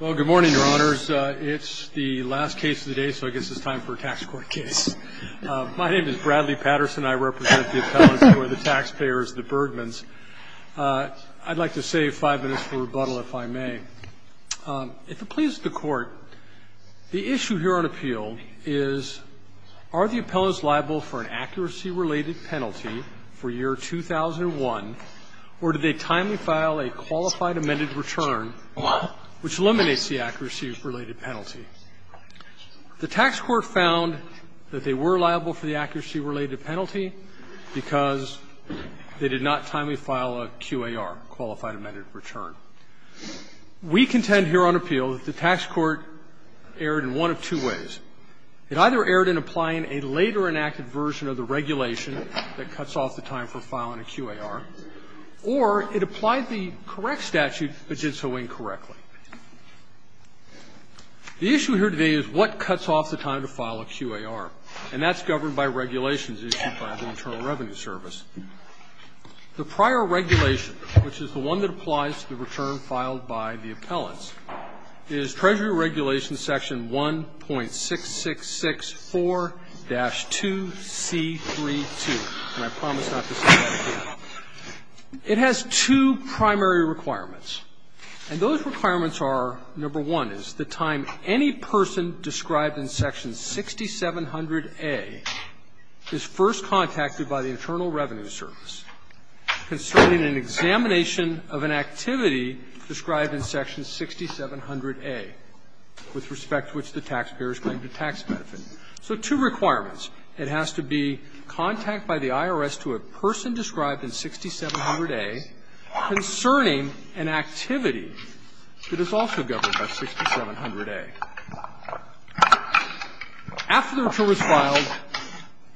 Well, good morning, Your Honors. It's the last case of the day, so I guess it's time for a tax court case. My name is Bradley Patterson. I represent the appellants who are the taxpayers, the Bergmanns. I'd like to save five minutes for rebuttal, if I may. If it pleases the Court, the issue here on appeal is, are the appellants liable for an accuracy-related penalty for year 2001, or did they timely file a qualified amended return, which eliminates the accuracy-related penalty? The tax court found that they were liable for the accuracy-related penalty because they did not timely file a QAR, qualified amended return. We contend here on appeal that the tax court erred in one of two ways. It either erred in applying a later enacted version of the regulation that cuts off the time for filing a QAR, or it applied the correct statute but did so incorrectly. The issue here today is what cuts off the time to file a QAR, and that's governed by regulations issued by the Internal Revenue Service. The prior regulation, which is the one that applies to the return filed by the appellants, is Treasury Regulation Section 1.6664-2C32. And I promise not to say that again. It has two primary requirements. And those requirements are, number one, is the time any person described in Section 6700A is first contacted by the Internal Revenue Service concerning an examination of an activity described in Section 6700A with respect to which the taxpayers claim the tax benefit. So two requirements. It has to be contact by the IRS to a person described in 6700A concerning an activity that is also governed by 6700A. After the return was filed,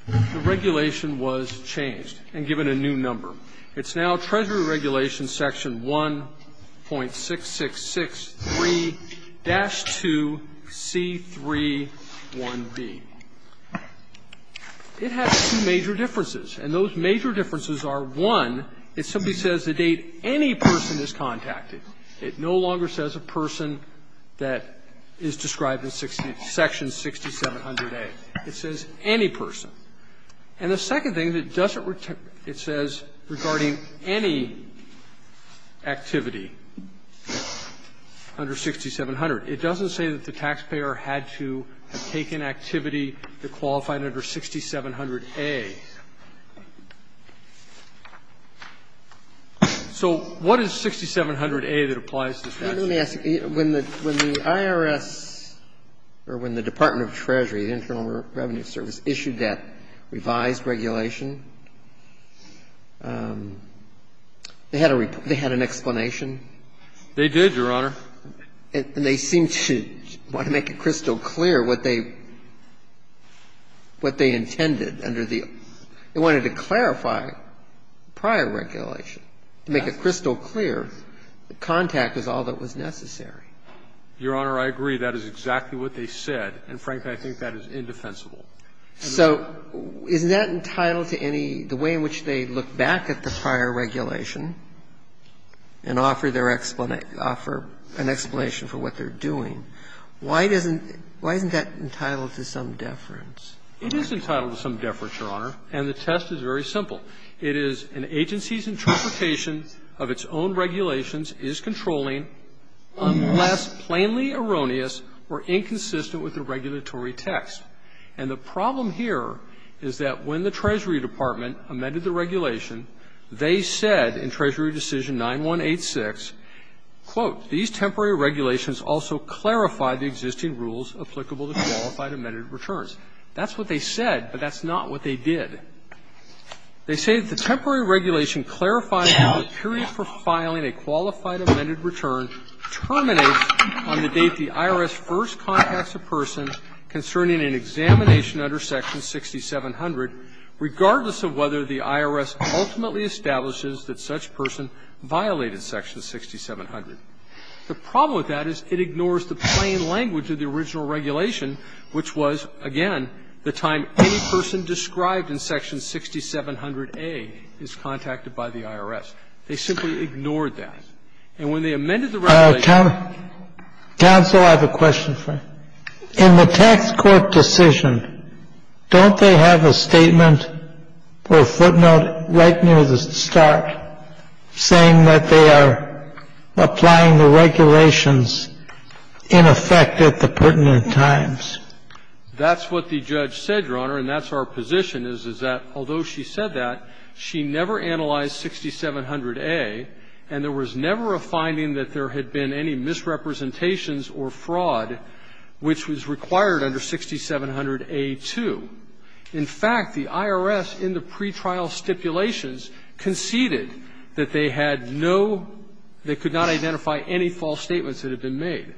the regulation was changed and given a new number. It's now Treasury Regulation Section 1.6663-2C31B. It has two major differences. And those major differences are, one, it simply says the date any person is contacted. It no longer says a person that is described in Section 6700A. It says any person. And the second thing, it doesn't return, it says regarding any activity under 6700. It doesn't say that the taxpayer had to take an activity that qualified under 6700A. So what is 6700A that applies to the taxpayer? So let me ask you, when the IRS or when the Department of Treasury, the Internal Revenue Service, issued that revised regulation, they had a report, they had an explanation? They did, Your Honor. And they seemed to want to make it crystal clear what they intended under the – they wanted to clarify prior regulation. To make it crystal clear, contact was all that was necessary. Your Honor, I agree. That is exactly what they said. And, frankly, I think that is indefensible. So isn't that entitled to any – the way in which they look back at the prior regulation and offer their – offer an explanation for what they're doing, why doesn't – why isn't that entitled to some deference? It is entitled to some deference, Your Honor. And the test is very simple. It is an agency's interpretation of its own regulations is controlling, unless plainly erroneous or inconsistent with the regulatory text. And the problem here is that when the Treasury Department amended the regulation, they said in Treasury decision 9186, quote, these temporary regulations also clarify the existing rules applicable to qualified amended returns. That's what they said, but that's not what they did. They say that the temporary regulation clarifies that the period for filing a qualified amended return terminates on the date the IRS first contacts a person concerning an examination under Section 6700, regardless of whether the IRS ultimately establishes that such person violated Section 6700. The problem with that is it ignores the plain language of the original regulation, which was, again, the time any person described in Section 6700A is contacted by the IRS. They simply ignored that. And when they amended the regulation – Kennedy, counsel, I have a question for you. In the tax court decision, don't they have a statement or a footnote right near the start saying that they are applying the regulations in effect at the pertinent times? That's what the judge said, Your Honor, and that's our position is, is that although she said that, she never analyzed 6700A, and there was never a finding that there had been any misrepresentations or fraud which was required under 6700A2. In fact, the IRS in the pretrial stipulations conceded that they had no – they could not identify any false statements that had been made.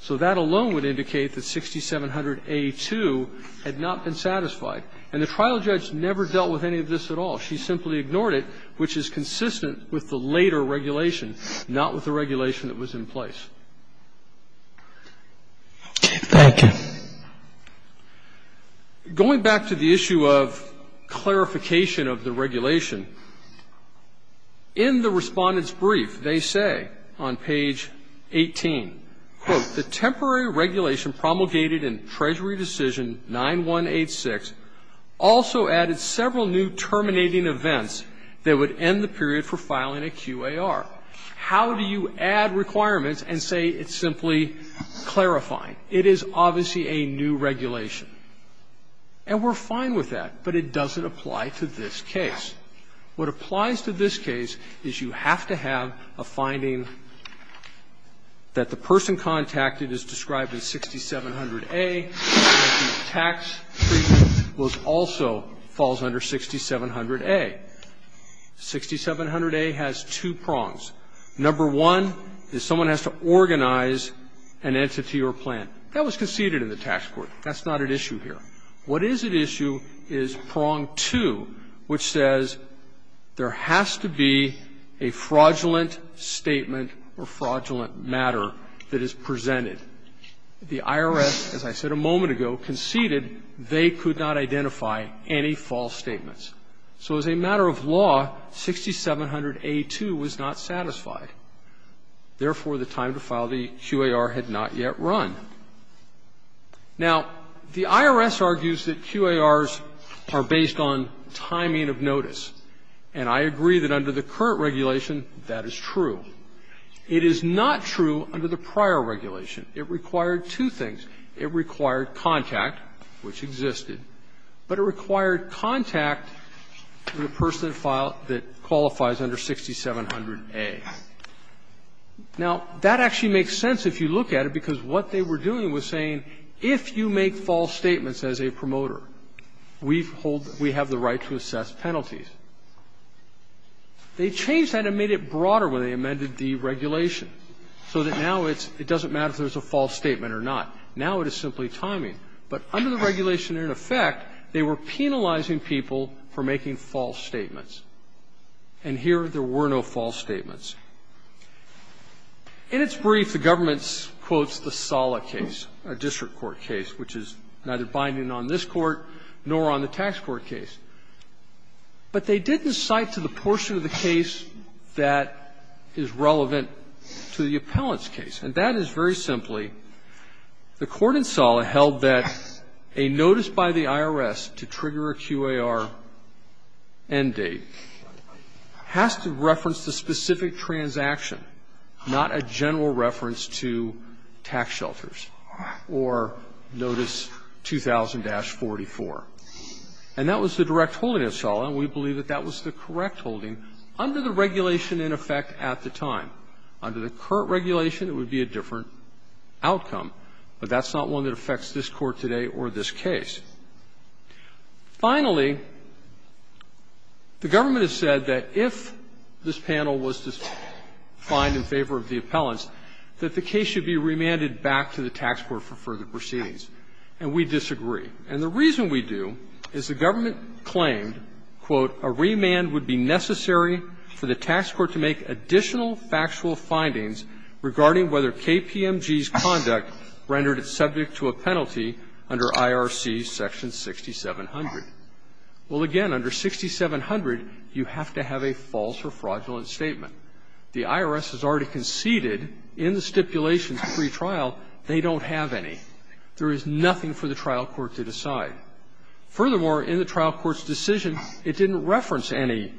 So that alone would indicate that 6700A2 had not been satisfied. And the trial judge never dealt with any of this at all. She simply ignored it, which is consistent with the later regulation, not with the regulation that was in place. Going back to the issue of clarification of the regulation, in the Respondent's QA, on page 18, quote, The temporary regulation promulgated in Treasury Decision 9186 also added several new terminating events that would end the period for filing a QAR. How do you add requirements and say it's simply clarifying? It is obviously a new regulation. And we're fine with that, but it doesn't apply to this case. What applies to this case is you have to have a finding that the person contacted is described in 6700A, that the tax treatment was also falls under 6700A. 6700A has two prongs. Number one is someone has to organize an entity or plan. That was conceded in the tax court. That's not at issue here. What is at issue is prong two, which says there has to be a fraudulent statement or fraudulent matter that is presented. The IRS, as I said a moment ago, conceded they could not identify any false statements. So as a matter of law, 6700A2 was not satisfied. Therefore, the time to file the QAR had not yet run. Now, the IRS argues that QARs are based on timing of notice. And I agree that under the current regulation that is true. It is not true under the prior regulation. It required two things. It required contact, which existed. But it required contact with a person that qualifies under 6700A. Now, that actually makes sense if you look at it, because what they were doing was saying, if you make false statements as a promoter, we have the right to assess penalties. They changed that and made it broader when they amended the regulation, so that now it doesn't matter if there's a false statement or not. Now it is simply timing. But under the regulation in effect, they were penalizing people for making false statements. And here there were no false statements. In its brief, the government quotes the Sala case, a district court case, which is neither binding on this Court nor on the tax court case. But they didn't cite to the portion of the case that is relevant to the appellant's case. And that is very simply, the court in Sala held that a notice by the IRS to trigger a QAR end date has to reference the specific transaction, not a general reference to tax shelters or Notice 2000-44. And that was the direct holding of Sala, and we believe that that was the correct holding under the regulation in effect at the time. Under the current regulation, it would be a different outcome. But that's not one that affects this Court today or this case. Finally, the government has said that if this panel was to find in favor of the appellants, that the case should be remanded back to the tax court for further proceedings. And we disagree. And the reason we do is the government claimed, quote, a remand would be necessary for the tax court to make additional factual findings regarding whether KPMG's conduct rendered it subject to a penalty under IRC section 6700. Well, again, under 6700, you have to have a false or fraudulent statement. The IRS has already conceded in the stipulations pre-trial they don't have any. There is nothing for the trial court to decide. Furthermore, in the trial court's decision, it didn't reference any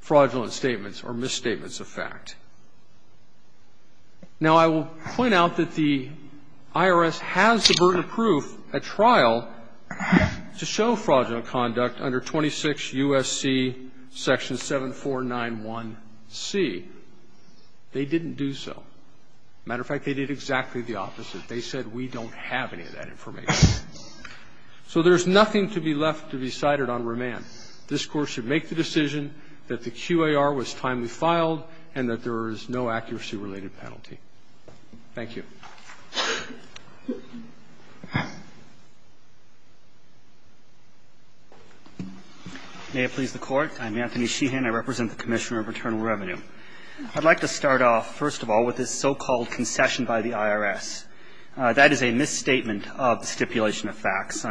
fraudulent statements or misstatements of fact. Now, I will point out that the IRS has the burden of proof at trial to show fraudulent conduct under 26 U.S.C. section 7491C. They didn't do so. As a matter of fact, they did exactly the opposite. They said we don't have any of that information. So there's nothing to be left to be cited on remand. This Court should make the decision that the QAR was timely filed and that there is no accuracy-related penalty. Thank you. Anthony Sheehan. I represent the Commissioner of Returnal Revenue. I'd like to start off, first of all, with this so-called concession by the IRS. That is a misstatement of the stipulation of facts.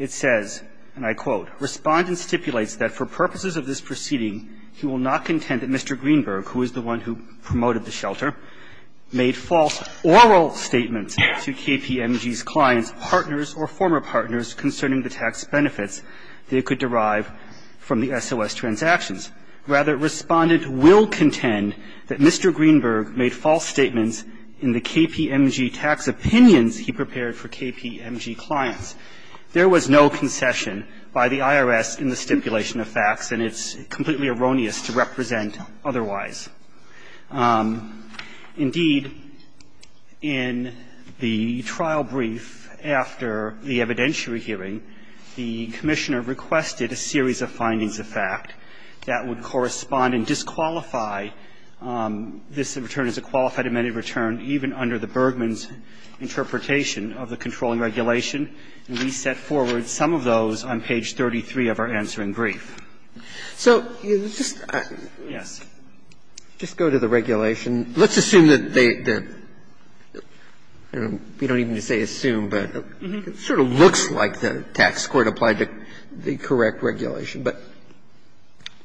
It says, and I quote, Respondent stipulates that for purposes of this proceeding, he will not contend that Mr. Greenberg, who is the one who promoted the shelter, made false oral statements to KPMG's clients, partners or former partners concerning the tax benefits they could derive from the SOS transactions. Rather, Respondent will contend that Mr. Greenberg made false statements in the KPMG tax opinions he prepared for KPMG clients. There was no concession by the IRS in the stipulation of facts, and it's completely erroneous to represent otherwise. Indeed, in the trial brief after the evidentiary hearing, the Commissioner requested a series of findings of fact that would correspond and disqualify this return as a qualified amended return, even under the Bergmann's interpretation of the controlling regulation. And we set forward some of those on page 33 of our answering brief. So just go to the regulation. Let's assume that they don't even say assume, but it sort of looks like the tax court has applied the correct regulation. But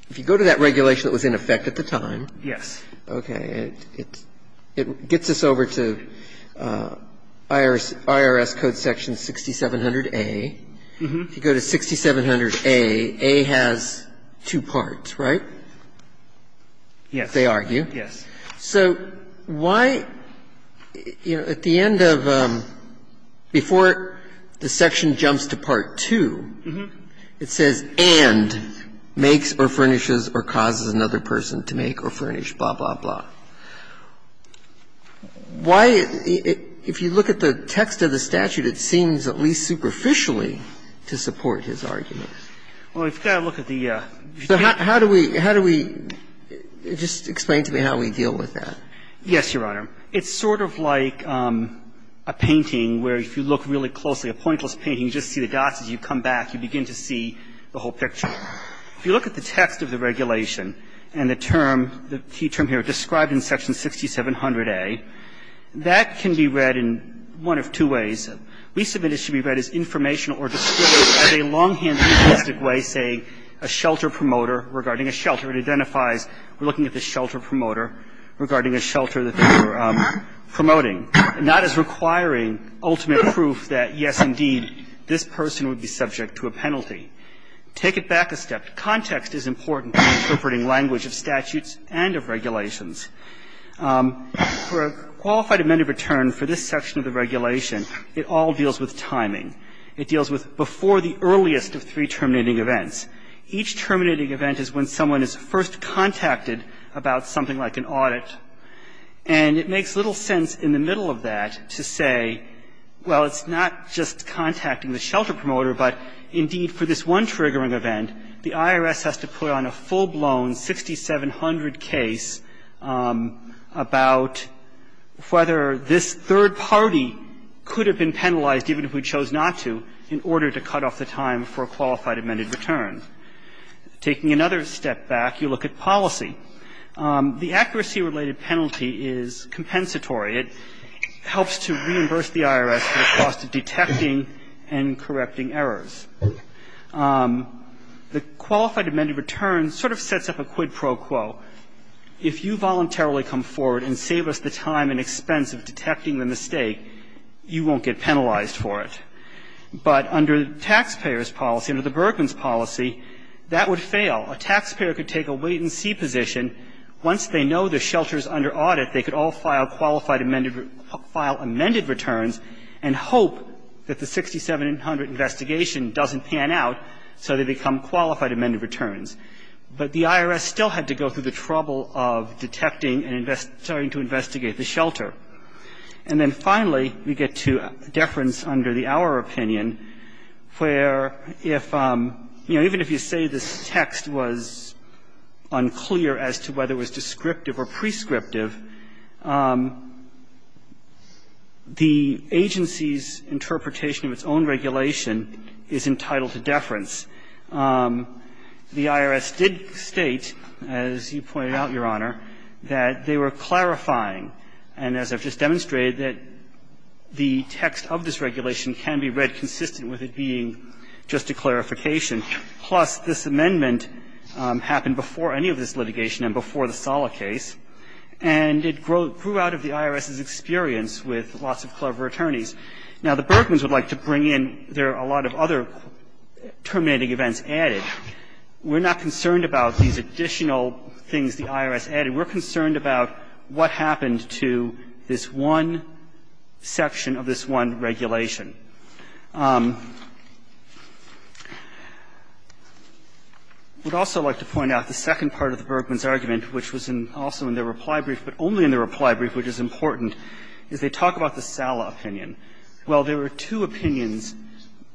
if you go to that regulation that was in effect at the time. Yes. Okay. It gets us over to IRS Code Section 6700A. If you go to 6700A, A has two parts, right? Yes. They argue. Yes. So why, you know, at the end of, before the section jumps to Part 2, it says, and makes or furnishes or causes another person to make or furnish, blah, blah, blah. Why, if you look at the text of the statute, it seems at least superficially to support his arguments. Well, we've got to look at the. So how do we, how do we, just explain to me how we deal with that. Yes, Your Honor. It's sort of like a painting where if you look really closely, a pointless painting, you just see the dots. As you come back, you begin to see the whole picture. If you look at the text of the regulation and the term, the key term here, described in Section 6700A, that can be read in one of two ways. We submit it should be read as informational or described as a longhand linguistic way, saying a shelter promoter regarding a shelter. It identifies we're looking at the shelter promoter regarding a shelter that they were promoting. And that is requiring ultimate proof that, yes, indeed, this person would be subject to a penalty. Take it back a step. Context is important in interpreting language of statutes and of regulations. For a qualified amended return for this section of the regulation, it all deals with timing. It deals with before the earliest of three terminating events. Each terminating event is when someone is first contacted about something like an audit. And it makes little sense in the middle of that to say, well, it's not just contacting the shelter promoter, but, indeed, for this one triggering event, the IRS has to put on a full-blown 6700 case about whether this third party could have been penalized given who chose not to in order to cut off the time for a qualified amended return. Taking another step back, you look at policy. The accuracy-related penalty is compensatory. It helps to reimburse the IRS for the cost of detecting and correcting errors. The qualified amended return sort of sets up a quid pro quo. If you voluntarily come forward and save us the time and expense of detecting the mistake, you won't get penalized for it. But under the taxpayer's policy, under the Bergman's policy, that would fail. A taxpayer could take a wait-and-see position. Once they know the shelter is under audit, they could all file qualified amended returns and hope that the 6700 investigation doesn't pan out so they become qualified amended returns. But the IRS still had to go through the trouble of detecting and starting to investigate the shelter. And then finally, we get to deference under the Our Opinion, where if, you know, even if you say this text was unclear as to whether it was descriptive or prescriptive, the agency's interpretation of its own regulation is entitled to deference. The IRS did state, as you pointed out, Your Honor, that they were clarifying. And as I've just demonstrated, that the text of this regulation can be read consistent with it being just a clarification. Plus, this amendment happened before any of this litigation and before the Sala case, and it grew out of the IRS's experience with lots of clever attorneys. Now, the Bergmans would like to bring in their other terminating events added. We're not concerned about these additional things the IRS added. We're concerned about what happened to this one section of this one regulation. I would also like to point out the second part of the Bergmans' argument, which was also in their reply brief but only in their reply brief, which is important, is they talk about the Sala opinion. Well, there were two opinions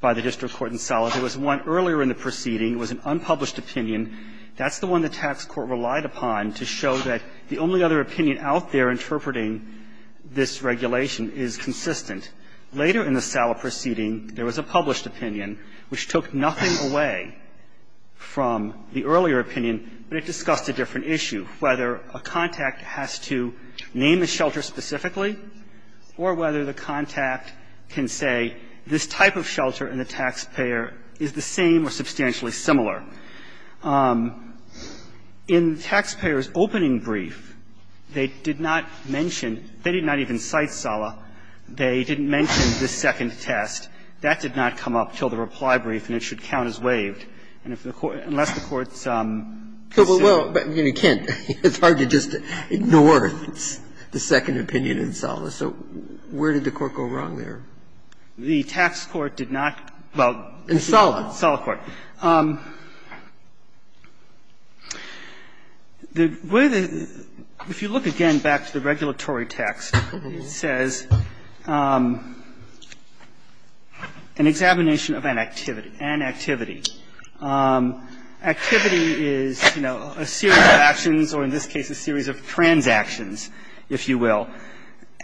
by the district court in Sala. There was one earlier in the proceeding. It was an unpublished opinion. That's the one the tax court relied upon to show that the only other opinion out there interpreting this regulation is consistent. Later in the Sala proceeding, there was a published opinion which took nothing away from the earlier opinion, but it discussed a different issue, whether a contact has to name a shelter specifically or whether the contact can say this type of shelter and the taxpayer is the same or substantially similar. In the taxpayer's opening brief, they did not mention, they did not even cite Sala. They didn't mention the second test. That did not come up until the reply brief, and it should count as waived. And if the Court unless the Court's. Kagan, it's hard to just ignore the second opinion in Sala. So where did the Court go wrong there? The tax court did not, well, in Sala, Sala court. The way the, if you look again back to the regulatory text, it says, an examination of an activity, an activity. Activity is, you know, a series of actions, or in this case, a series of transactions, if you will.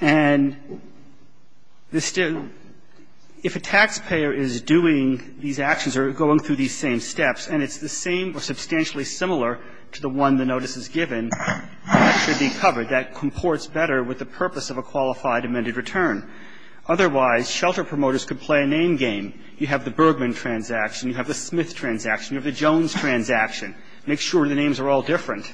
And if a taxpayer is doing these actions or going through these same steps and it's the same or substantially similar to the one the notice is given, that should be covered. That comports better with the purpose of a qualified amended return. Otherwise, shelter promoters could play a name game. You have the Bergman transaction, you have the Smith transaction, you have the Jones transaction. Make sure the names are all different.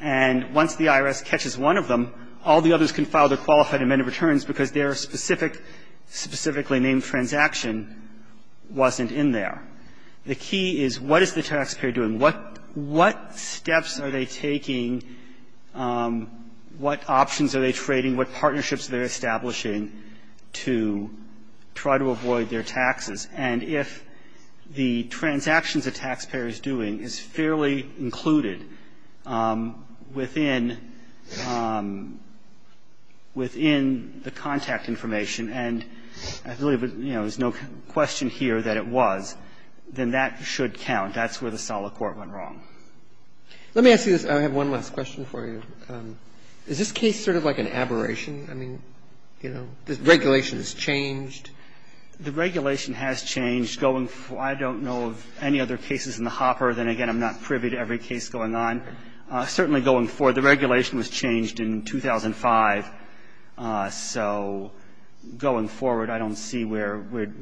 And once the IRS catches one of them, all the others can file their qualified amended returns because their specific, specifically named transaction wasn't in there. The key is what is the taxpayer doing? What steps are they taking? What options are they trading? What partnerships are they establishing to try to avoid their taxes? And if the transactions a taxpayer is doing is fairly included within the contact information, and I believe there's no question here that it was, then that should count. That's where the solid court went wrong. Let me ask you this. I have one last question for you. Is this case sort of like an aberration? I mean, you know, the regulation has changed. The regulation has changed going forward. I don't know of any other cases in the hopper. Then again, I'm not privy to every case going on. Certainly going forward, the regulation was changed in 2005. So going forward, I don't see where we'd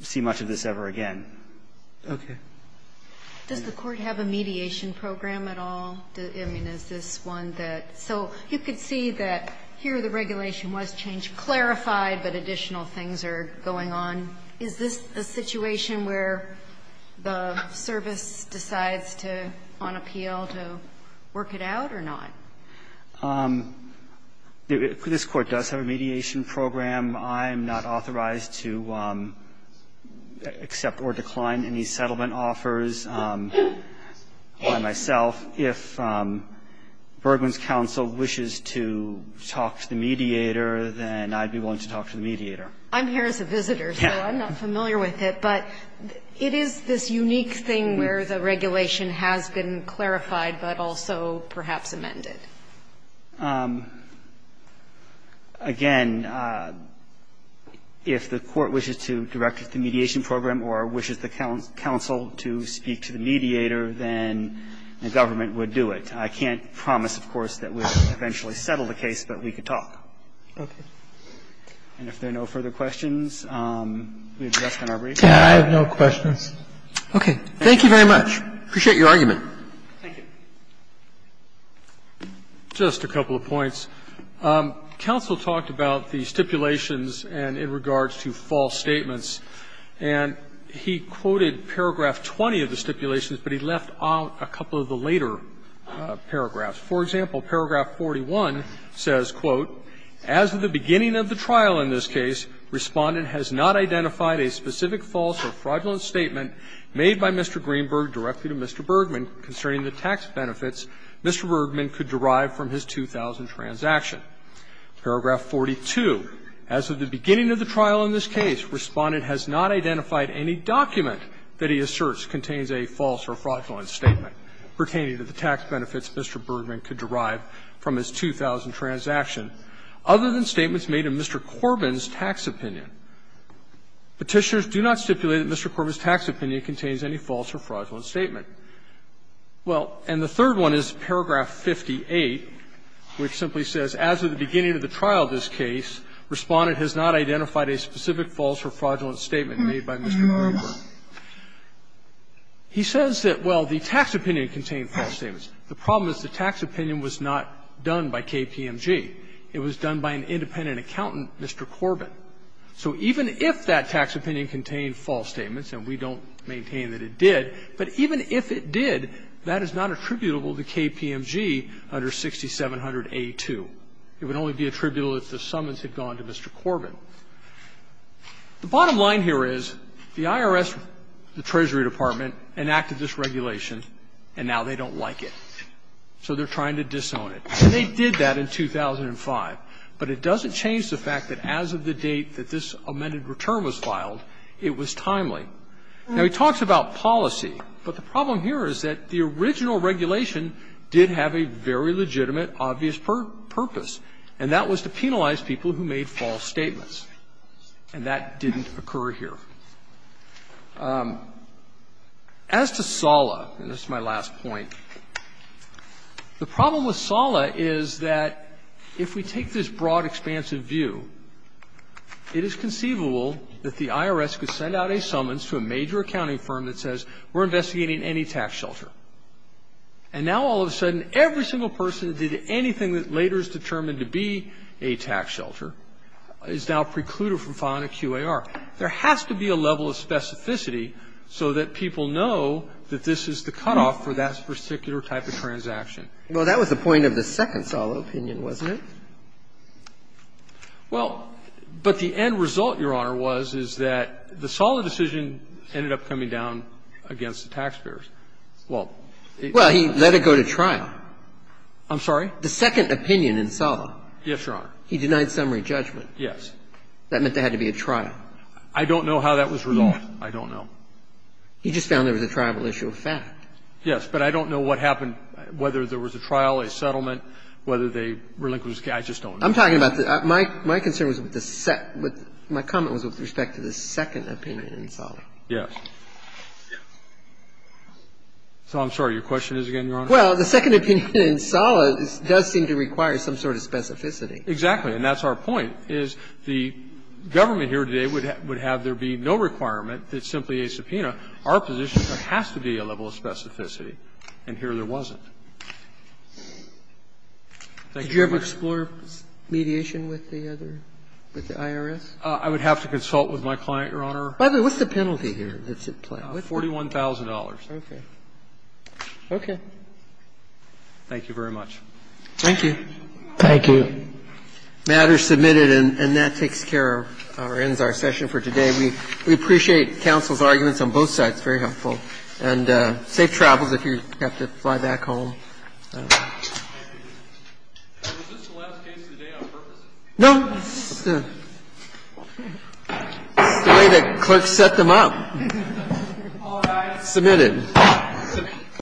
see much of this ever again. Roberts. Does the Court have a mediation program at all? I mean, is this one that so you could see that here the regulation was changed, clarified, but additional things are going on. Is this a situation where the service decides to, on appeal, to work it out or not? This Court does have a mediation program. I'm not authorized to accept or decline any settlement offers by myself. If Bergman's counsel wishes to talk to the mediator, then I'd be willing to talk to the mediator. I'm here as a visitor, so I'm not familiar with it. But it is this unique thing where the regulation has been clarified, but also perhaps amended. Again, if the Court wishes to direct the mediation program or wishes the counsel to speak to the mediator, then the government would do it. I can't promise, of course, that we would eventually settle the case, but we could talk. And if there are no further questions, we have addressed on our brief. I have no questions. Okay. Thank you very much. I appreciate your argument. Thank you. Just a couple of points. Counsel talked about the stipulations and in regards to false statements. And he quoted paragraph 20 of the stipulations, but he left out a couple of the later paragraphs. For example, paragraph 41 says, Quote, As of the beginning of the trial in this case, Respondent has not identified a specific false or fraudulent statement made by Mr. Greenberg directly to Mr. Bergman concerning the tax benefits Mr. Bergman could derive from his 2000 transaction. Paragraph 42. As of the beginning of the trial in this case, Respondent has not identified any document that he asserts contains a false or fraudulent statement pertaining to the tax benefits Mr. Bergman could derive from his 2000 transaction, other than statements made in Mr. Corbin's tax opinion. Petitioners do not stipulate that Mr. Corbin's tax opinion contains any false or fraudulent statement. Well, and the third one is paragraph 58, which simply says, As of the beginning of the trial in this case, Respondent has not identified a specific false or fraudulent statement made by Mr. Greenberg. He says that, well, the tax opinion contained false statements. The problem is the tax opinion was not done by KPMG. It was done by an independent accountant, Mr. Corbin. So even if that tax opinion contained false statements, and we don't maintain that it did, but even if it did, that is not attributable to KPMG under 6700A2. It would only be attributable if the summons had gone to Mr. Corbin. The bottom line here is the IRS, the Treasury Department, enacted this regulation and now they don't like it. So they're trying to disown it. And they did that in 2005. But it doesn't change the fact that as of the date that this amended return was filed, it was timely. Now, he talks about policy, but the problem here is that the original regulation did have a very legitimate, obvious purpose, and that was to penalize people who made false statements. And that didn't occur here. As to SALA, and this is my last point, the problem with SALA is that if we take this broad, expansive view, it is conceivable that the IRS could send out a summons to a major accounting firm that says, we're investigating any tax shelter. And now all of a sudden, every single person that did anything that later is determined to be a tax shelter is now precluded from filing a QAR. There has to be a level of specificity so that people know that this is the cutoff for that particular type of transaction. Well, that was the point of the second SALA opinion, wasn't it? Well, but the end result, Your Honor, was, is that the SALA decision ended up coming down against the taxpayers. Well, it's not that simple. Well, he let it go to trial. I'm sorry? The second opinion in SALA. Yes, Your Honor. He denied summary judgment. Yes. That meant there had to be a trial. I don't know how that was resolved. I don't know. He just found there was a tribal issue of fact. Yes, but I don't know what happened, whether there was a trial, a settlement, whether they relinquished the case. I just don't know. I'm talking about the – my concern was with the second – my comment was with respect to the second opinion in SALA. Yes. So I'm sorry. Your question is again, Your Honor? Well, the second opinion in SALA does seem to require some sort of specificity. Exactly. And that's our point, is the government here today would have there be no requirement that simply a subpoena. Our position there has to be a level of specificity, and here there wasn't. Thank you, Your Honor. Did you ever explore mediation with the other – with the IRS? I would have to consult with my client, Your Honor. By the way, what's the penalty here that's at play? $41,000. Okay. Okay. Thank you very much. Thank you. Thank you. The matter is submitted, and that takes care of – or ends our session for today. We appreciate counsel's arguments on both sides. Very helpful. And safe travels if you have to fly back home. Was this the last case of the day on purpose? No. It's the way the clerk set them up. Submitted. Submitted.